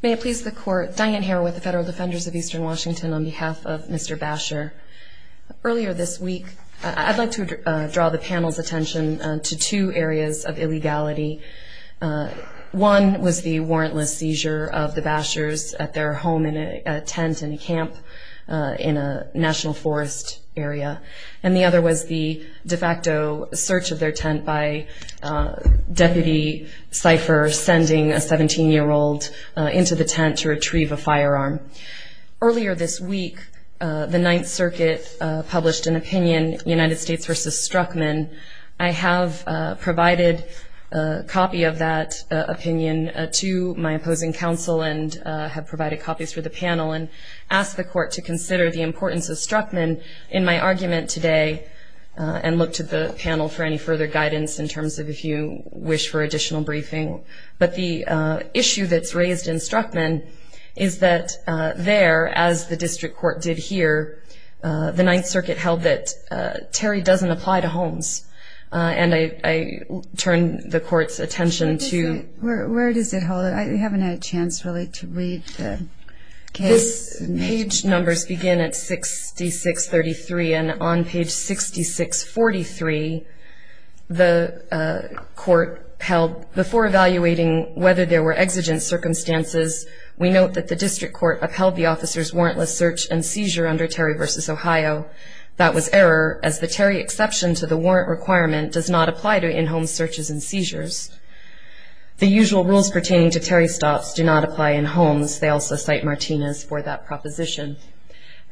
May it please the court, Diane Hare with the Federal Defenders of Eastern Washington on behalf of Mr. Basher. Earlier this week, I'd like to draw the panel's attention to two areas of illegality. One was the warrantless seizure of the Bashers at their home in a tent in a camp in a national forest area, and the other was the de facto search of their tent by Deputy Cipher sending a 17-year-old into the tent to retrieve a firearm. Earlier this week, the Ninth Circuit published an opinion, United States v. Struckman. I have provided a copy of that opinion to my opposing counsel and have provided copies for the panel and ask the court to consider the importance of Struckman in my argument today and look to the panel for any further guidance in terms of if you wish for additional briefing. But the issue that's raised in Struckman is that there, as the district court did here, the Ninth Circuit held that Terry doesn't apply to homes, and I turn the court's attention to Where does it hold? I haven't had a chance really to read the case. Page numbers begin at 6633, and on page 6643, the court held, before evaluating whether there were exigent circumstances, we note that the district court upheld the officer's warrantless search and seizure under Terry v. Ohio. That was error, as the Terry exception to the warrant requirement does not apply to in-home searches and seizures. The usual rules pertaining to Terry stops do not apply in homes. They also cite Martinez for that proposition.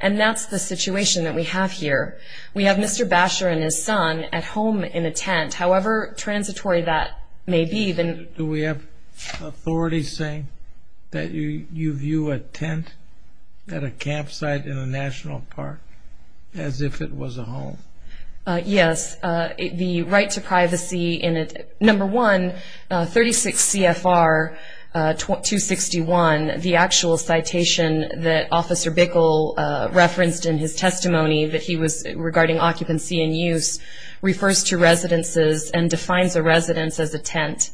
And that's the situation that we have here. We have Mr. Basher and his son at home in a tent. However transitory that may be, then do we have authority saying that you view a tent at a campsite in a national park? As if it was a home. Yes. The right to privacy in it, number one, 36 CFR 261, the actual citation that Officer Bickel referenced in his testimony regarding occupancy and use, refers to residences and defines a residence as a tent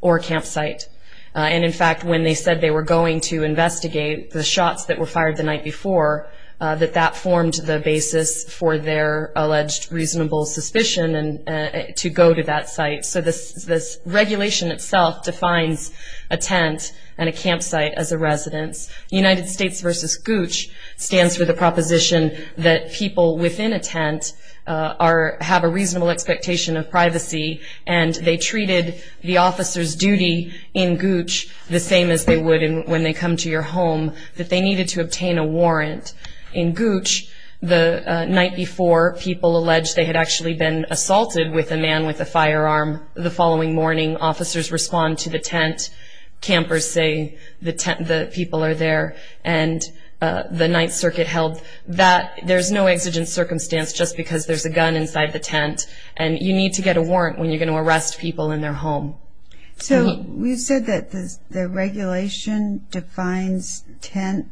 or campsite. And in fact, when they said they were going to investigate the shots that were fired the night before, that that formed the basis for their alleged reasonable suspicion to go to that site. So this regulation itself defines a tent and a campsite as a residence. United States v. Gooch stands for the proposition that people within a tent have a reasonable expectation of privacy, and they treated the officer's duty in Gooch the same as they would when they come to your home, that they needed to obtain a warrant. In Gooch, the night before, people alleged they had actually been assaulted with a man with a firearm. The following morning, officers respond to the tent. Campers say the people are there. And the Ninth Circuit held that there's no exigent circumstance just because there's a gun inside the tent, and you need to get a warrant when you're going to arrest people in their home. So you said that the regulation defines tent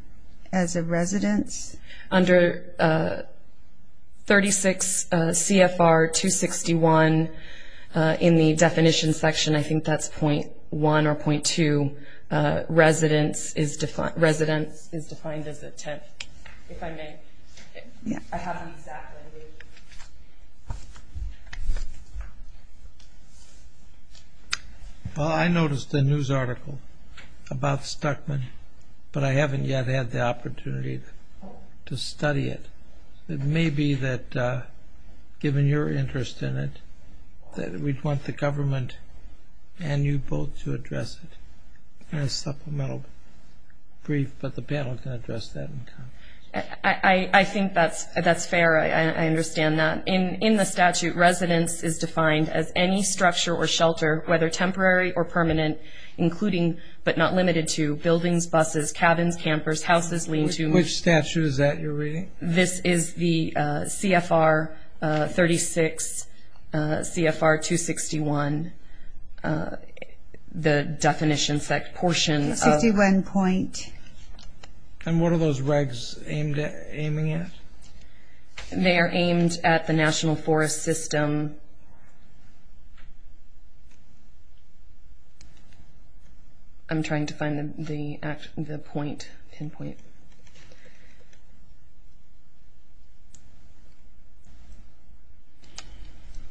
as a residence? Under 36 CFR 261 in the definition section, I think that's .1 or .2, residence is defined as a tent, if I may. I haven't exactly. Well, I noticed a news article about Stuckman, but I haven't yet had the opportunity to study it. It may be that, given your interest in it, that we'd want the government and you both to address it in a supplemental brief, but the panel can address that in comment. I think that's fair. I understand that. In the statute, residence is defined as any structure or shelter, whether temporary or permanent, including but not limited to buildings, buses, cabins, campers, houses, lean-to. Which statute is that you're reading? This is the CFR 36 CFR 261, the definition section portion. The 61 point. And what are those regs aiming at? They are aimed at the National Forest System. I'm trying to find the point. Pinpoint.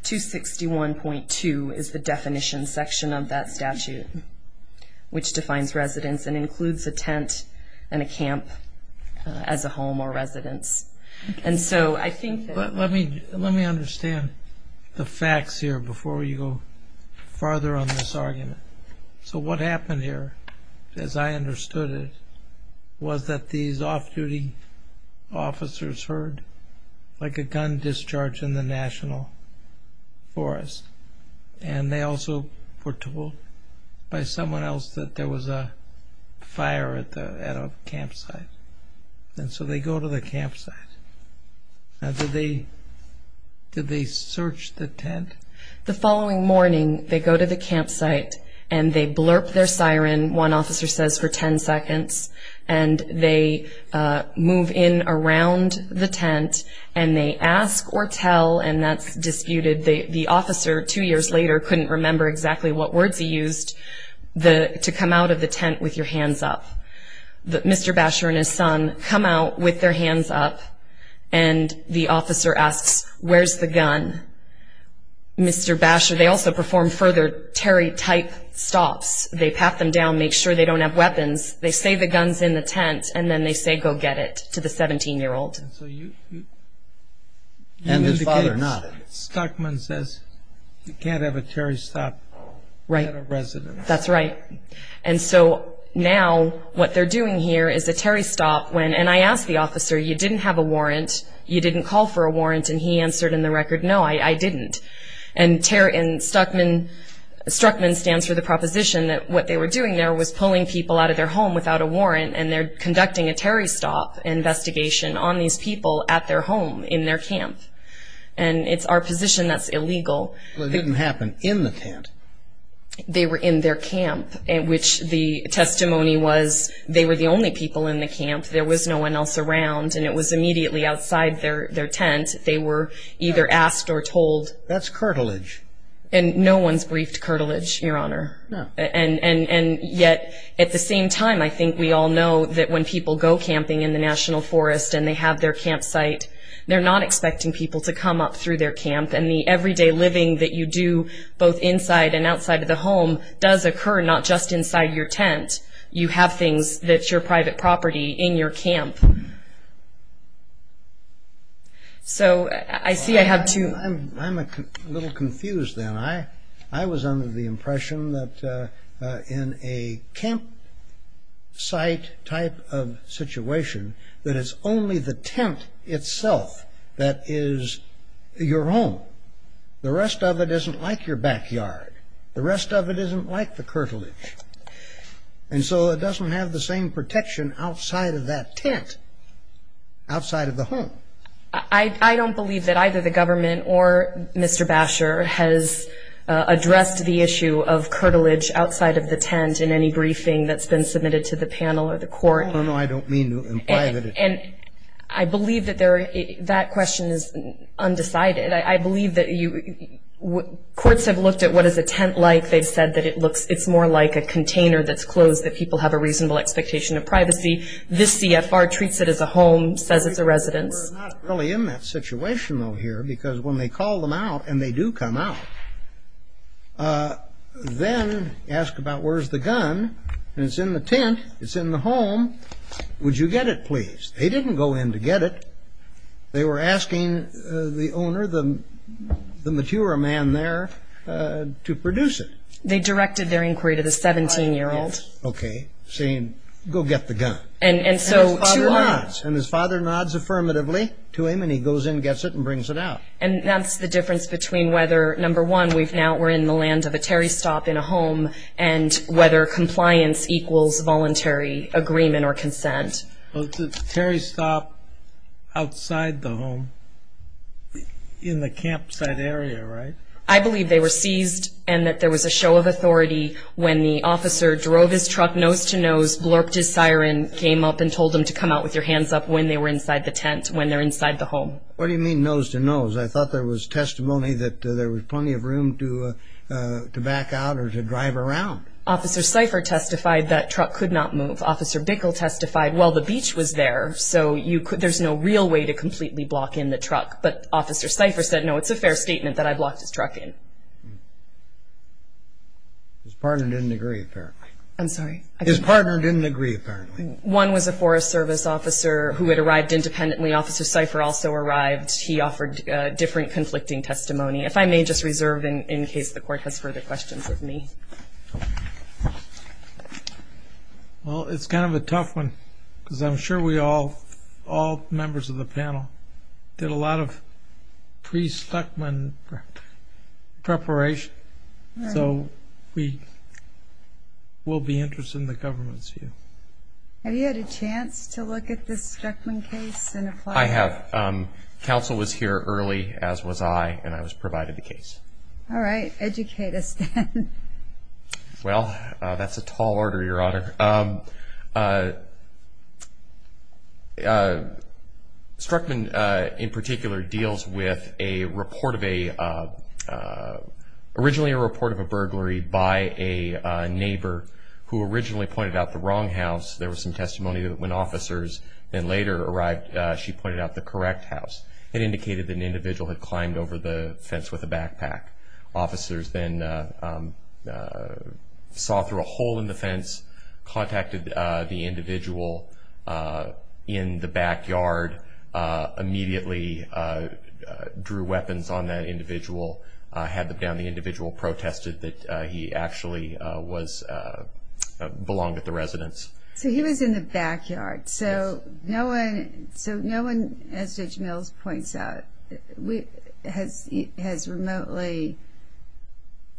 261.2 is the definition section of that statute, which defines residence and includes a tent and a camp as a home or residence. Let me understand the facts here before you go farther on this argument. So what happened here, as I understood it, was that these off-duty officers heard like a gun discharge in the National Forest, and they also were told by someone else that there was a fire at a campsite, and so they go to the campsite. Now, did they search the tent? The following morning, they go to the campsite, and they blurp their siren, one officer says, for ten seconds, and they move in around the tent, and they ask or tell, and that's disputed. The officer, two years later, couldn't remember exactly what words he used, to come out of the tent with your hands up. Mr. Basher and his son come out with their hands up, and the officer asks, where's the gun? Mr. Basher, they also perform further terry-type stops. They pat them down, make sure they don't have weapons. They say the gun's in the tent, and then they say go get it to the 17-year-old. And his father nodded. Stockman says you can't have a terry stop at a residence. That's right. And so now what they're doing here is a terry stop, and I asked the officer, you didn't have a warrant, you didn't call for a warrant, and he answered in the record, no, I didn't. And Stockman stands for the proposition that what they were doing there was pulling people out of their home without a warrant, and they're conducting a terry stop investigation on these people at their home, in their camp, and it's our position that's illegal. Well, it didn't happen in the tent. They were in their camp, which the testimony was they were the only people in the camp. There was no one else around, and it was immediately outside their tent. They were either asked or told. That's curtilage. And no one's briefed curtilage, Your Honor. No. And yet, at the same time, I think we all know that when people go camping in the National Forest and they have their campsite, they're not expecting people to come up through their camp, and the everyday living that you do both inside and outside of the home does occur, not just inside your tent. You have things that's your private property in your camp. So I see I have two. I'm a little confused then. I was under the impression that in a campsite type of situation, that it's only the tent itself that is your home. The rest of it isn't like your backyard. The rest of it isn't like the curtilage. And so it doesn't have the same protection outside of that tent, outside of the home. I don't believe that either the government or Mr. Basher has addressed the issue of curtilage outside of the tent in any briefing that's been submitted to the panel or the court. No, no, I don't mean to imply that. And I believe that that question is undecided. I believe that courts have looked at what is a tent like. They've said that it's more like a container that's closed, that people have a reasonable expectation of privacy. This CFR treats it as a home, says it's a residence. We're not really in that situation, though, here, because when they call them out, and they do come out, then ask about where's the gun, and it's in the tent, it's in the home. Would you get it, please? They didn't go in to get it. They were asking the owner, the mature man there, to produce it. They directed their inquiry to the 17-year-old. Okay, saying, go get the gun. And his father nods. And his father nods affirmatively to him, and he goes in, gets it, and brings it out. And that's the difference between whether, number one, we're in the land of a Terry Stop in a home, and whether compliance equals voluntary agreement or consent. Well, it's a Terry Stop outside the home, in the campsite area, right? I believe they were seized, and that there was a show of authority when the officer drove his truck nose-to-nose, blurped his siren, came up and told him to come out with your hands up when they were inside the tent, when they're inside the home. What do you mean nose-to-nose? I thought there was testimony that there was plenty of room to back out or to drive around. Officer Seifer testified that truck could not move. Officer Bickel testified, well, the beach was there, so there's no real way to completely block in the truck. But Officer Seifer said, no, it's a fair statement that I blocked his truck in. His partner didn't agree, apparently. I'm sorry? His partner didn't agree, apparently. One was a Forest Service officer who had arrived independently. Officer Seifer also arrived. He offered different conflicting testimony. If I may, just reserve in case the Court has further questions of me. Well, it's kind of a tough one because I'm sure we all, all members of the panel, did a lot of pre-Stuckman preparation. So we'll be interested in the government's view. Have you had a chance to look at this Stuckman case and apply? I have. Counsel was here early, as was I, and I was provided the case. All right. Educate us then. Well, that's a tall order, Your Honor. Stuckman in particular deals with a report of a, originally a report of a burglary by a neighbor who originally pointed out the wrong house. There was some testimony that when officers then later arrived, she pointed out the correct house. It indicated that an individual had climbed over the fence with a backpack. Officers then saw through a hole in the fence, contacted the individual in the backyard, immediately drew weapons on that individual, had them down. The individual protested that he actually was, belonged at the residence. So he was in the backyard. So no one, as Judge Mills points out, has remotely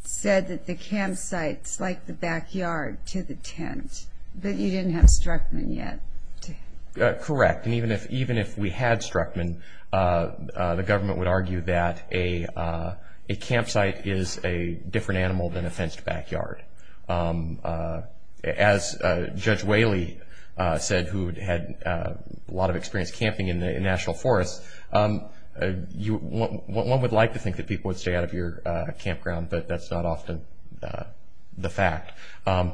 said that the campsite's like the backyard to the tent, that you didn't have Stuckman yet. Correct. And even if we had Stuckman, the government would argue that a campsite is a different animal than a fenced backyard. As Judge Whaley said, who had a lot of experience camping in the National Forest, one would like to think that people would stay out of your campground, but that's not often the fact.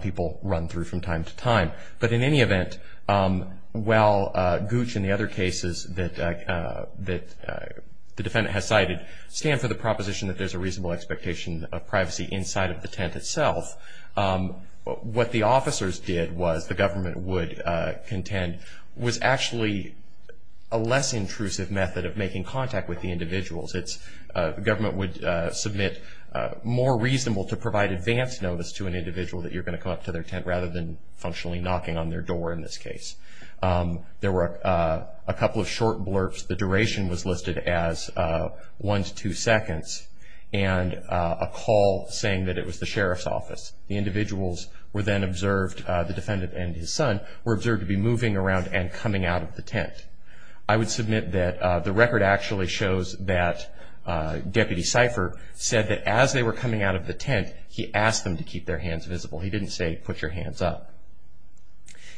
People run through from time to time. But in any event, while Gooch and the other cases that the defendant has cited stand for the proposition that there's a reasonable expectation of privacy inside of the tent itself, what the officers did was, the government would contend, was actually a less intrusive method of making contact with the individuals. The government would submit more reasonable to provide advance notice to an individual that you're going to come up to their tent rather than functionally knocking on their door in this case. There were a couple of short blurbs. The duration was listed as one to two seconds, and a call saying that it was the sheriff's office. The individuals were then observed, the defendant and his son, were observed to be moving around and coming out of the tent. I would submit that the record actually shows that Deputy Cipher said that as they were coming out of the tent, he asked them to keep their hands visible. He didn't say, put your hands up.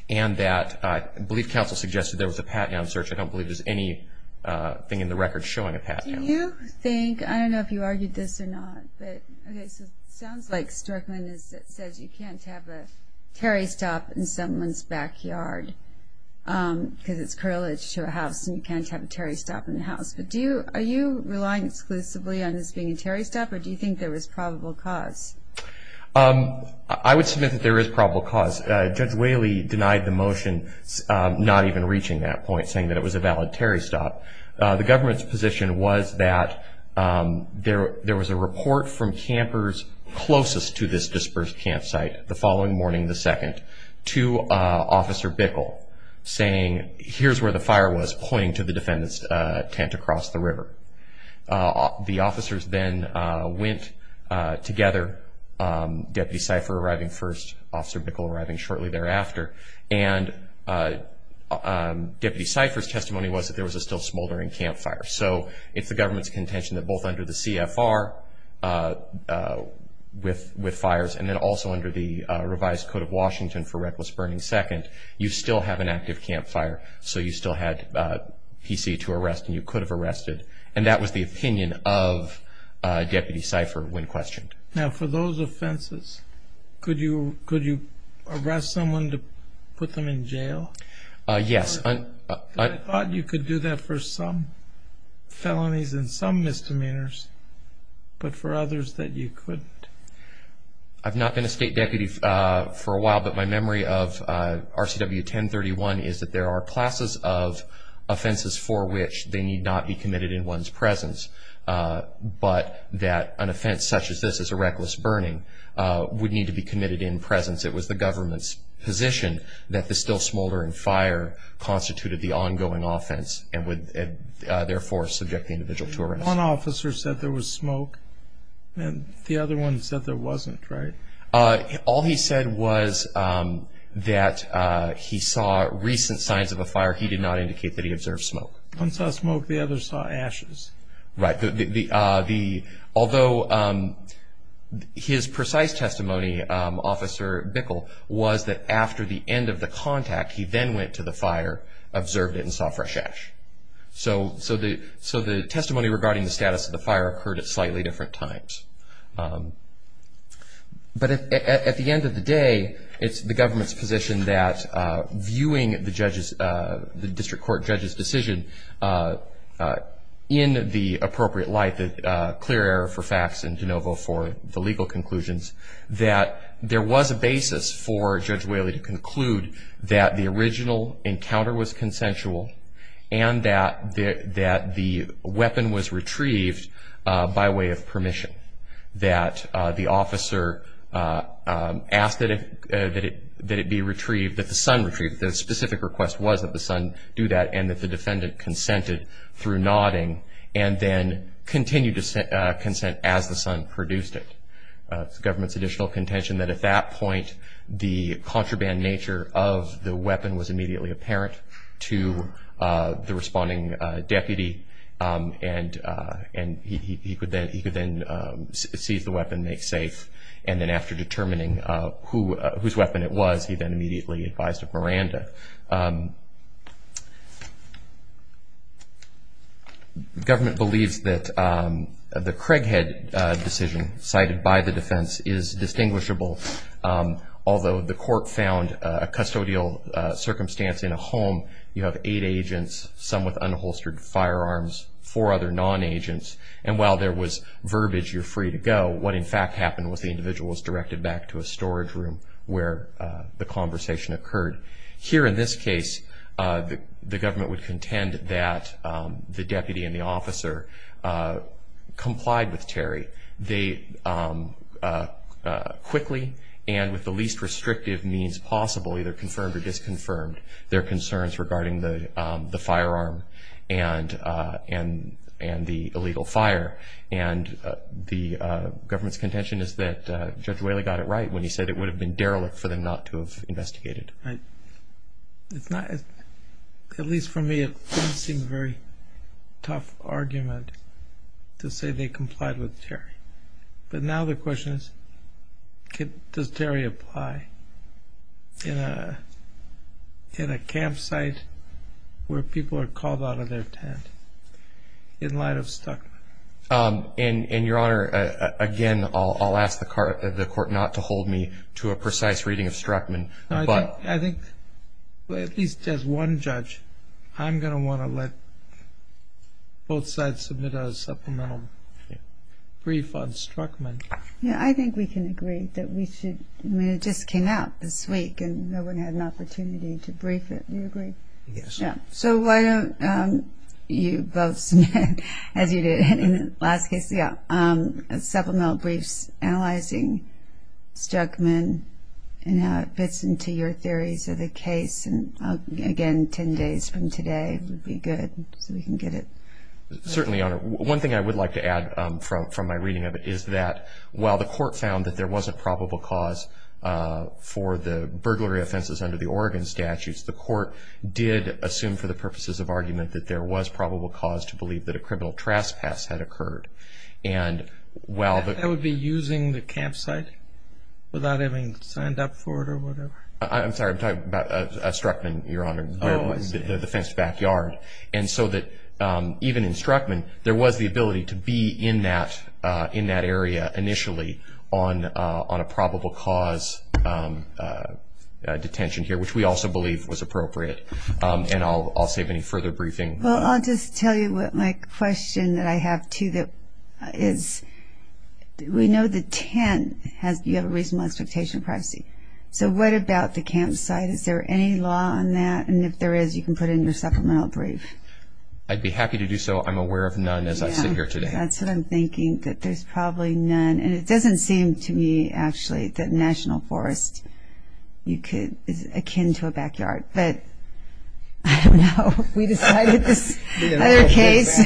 And that I believe counsel suggested there was a pat-down search. I don't believe there's anything in the record showing a pat-down search. Do you think, I don't know if you argued this or not, but it sounds like Storkman says you can't have a Terry stop in someone's backyard, because it's correlated to a house, and you can't have a Terry stop in the house. But are you relying exclusively on this being a Terry stop, or do you think there was probable cause? I would submit that there is probable cause. Judge Whaley denied the motion, not even reaching that point, saying that it was a valid Terry stop. The government's position was that there was a report from campers closest to this dispersed campsite, the following morning, the 2nd, to Officer Bickel, saying, here's where the fire was pointing to the defendant's tent across the river. The officers then went together, Deputy Cipher arriving first, Officer Bickel arriving shortly thereafter, and Deputy Cipher's testimony was that there was a still smoldering campfire. So it's the government's contention that both under the CFR with fires, and then also under the revised Code of Washington for Reckless Burning 2nd, you still have an active campfire, so you still had PC to arrest, and you could have arrested. And that was the opinion of Deputy Cipher when questioned. Now for those offenses, could you arrest someone to put them in jail? Yes. I thought you could do that for some felonies and some misdemeanors, but for others that you couldn't. I've not been a State Deputy for a while, but my memory of RCW 1031 is that there are classes of offenses for which they need not be committed in one's presence, but that an offense such as this as a reckless burning would need to be committed in presence. It was the government's position that the still smoldering fire constituted the ongoing offense and would therefore subject the individual to arrest. One officer said there was smoke, and the other one said there wasn't, right? All he said was that he saw recent signs of a fire. He did not indicate that he observed smoke. One saw smoke, the other saw ashes. Right. Although his precise testimony, Officer Bickel, was that after the end of the contact, he then went to the fire, observed it, and saw fresh ash. So the testimony regarding the status of the fire occurred at slightly different times. But at the end of the day, it's the government's position that viewing the district court judge's decision in the appropriate light, the clear error for facts and de novo for the legal conclusions, that there was a basis for Judge Whaley to conclude that the original encounter was consensual and that the weapon was retrieved by way of permission, that the officer asked that it be retrieved, that the son retrieve it. The specific request was that the son do that, and that the defendant consented through nodding and then continued to consent as the son produced it. It's the government's additional contention that at that point, the contraband nature of the weapon was immediately apparent to the responding deputy, and he could then seize the weapon and make safe. And then after determining whose weapon it was, he then immediately advised of Miranda. The government believes that the Craighead decision cited by the defense is distinguishable, although the court found a custodial circumstance in a home. You have eight agents, some with unholstered firearms, four other non-agents, and while there was verbiage, you're free to go, what in fact happened was the individual was directed back to a storage room where the conversation occurred. Here in this case, the government would contend that the deputy and the officer complied with Terry. They quickly and with the least restrictive means possible, either confirmed or disconfirmed, their concerns regarding the firearm and the illegal fire. And the government's contention is that Judge Whaley got it right when he said it would have been derelict for them not to have investigated. At least for me, it didn't seem a very tough argument to say they complied with Terry. But now the question is, does Terry apply in a campsite where people are called out of their tent in light of Stuckman? And, Your Honor, again, I'll ask the court not to hold me to a precise reading of Stuckman. I think at least as one judge, I'm going to want to let both sides submit a supplemental brief on Stuckman. Yeah, I think we can agree that we should, I mean, it just came out this week and no one had an opportunity to brief it. Do you agree? Yes. So why don't you both submit, as you did in the last case, a supplemental brief analyzing Stuckman and how it fits into your theories of the case. And, again, ten days from today would be good so we can get it. Certainly, Your Honor. One thing I would like to add from my reading of it is that while the court found that there was a probable cause for the burglary offenses under the Oregon statutes, the court did assume for the purposes of argument that there was probable cause to believe that a criminal trespass had occurred. And while the... That would be using the campsite without having signed up for it or whatever? I'm sorry, I'm talking about Stuckman, Your Honor, the fenced backyard. And so that even in Stuckman, there was the ability to be in that area initially on a probable cause detention here, which we also believe was appropriate. And I'll save any further briefing. Well, I'll just tell you my question that I have, too, that is we know the tent has, you have a reasonable expectation of privacy. So what about the campsite? Is there any law on that? And if there is, you can put in your supplemental brief. I'd be happy to do so. I'm aware of none as I sit here today. That's what I'm thinking, that there's probably none. And it doesn't seem to me, actually, that National Forest is akin to a backyard. But I don't know. We decided this other case.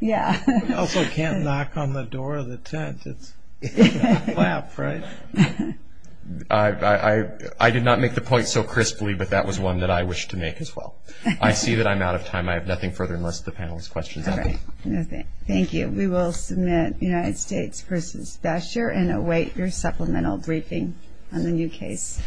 Yeah. You also can't knock on the door of the tent. It's a flap, right? I did not make the point so crisply, but that was one that I wish to make as well. I see that I'm out of time. I have nothing further unless the panel has questions. All right. Thank you. We will submit United States v. Thatcher and await your supplemental briefing on the new case.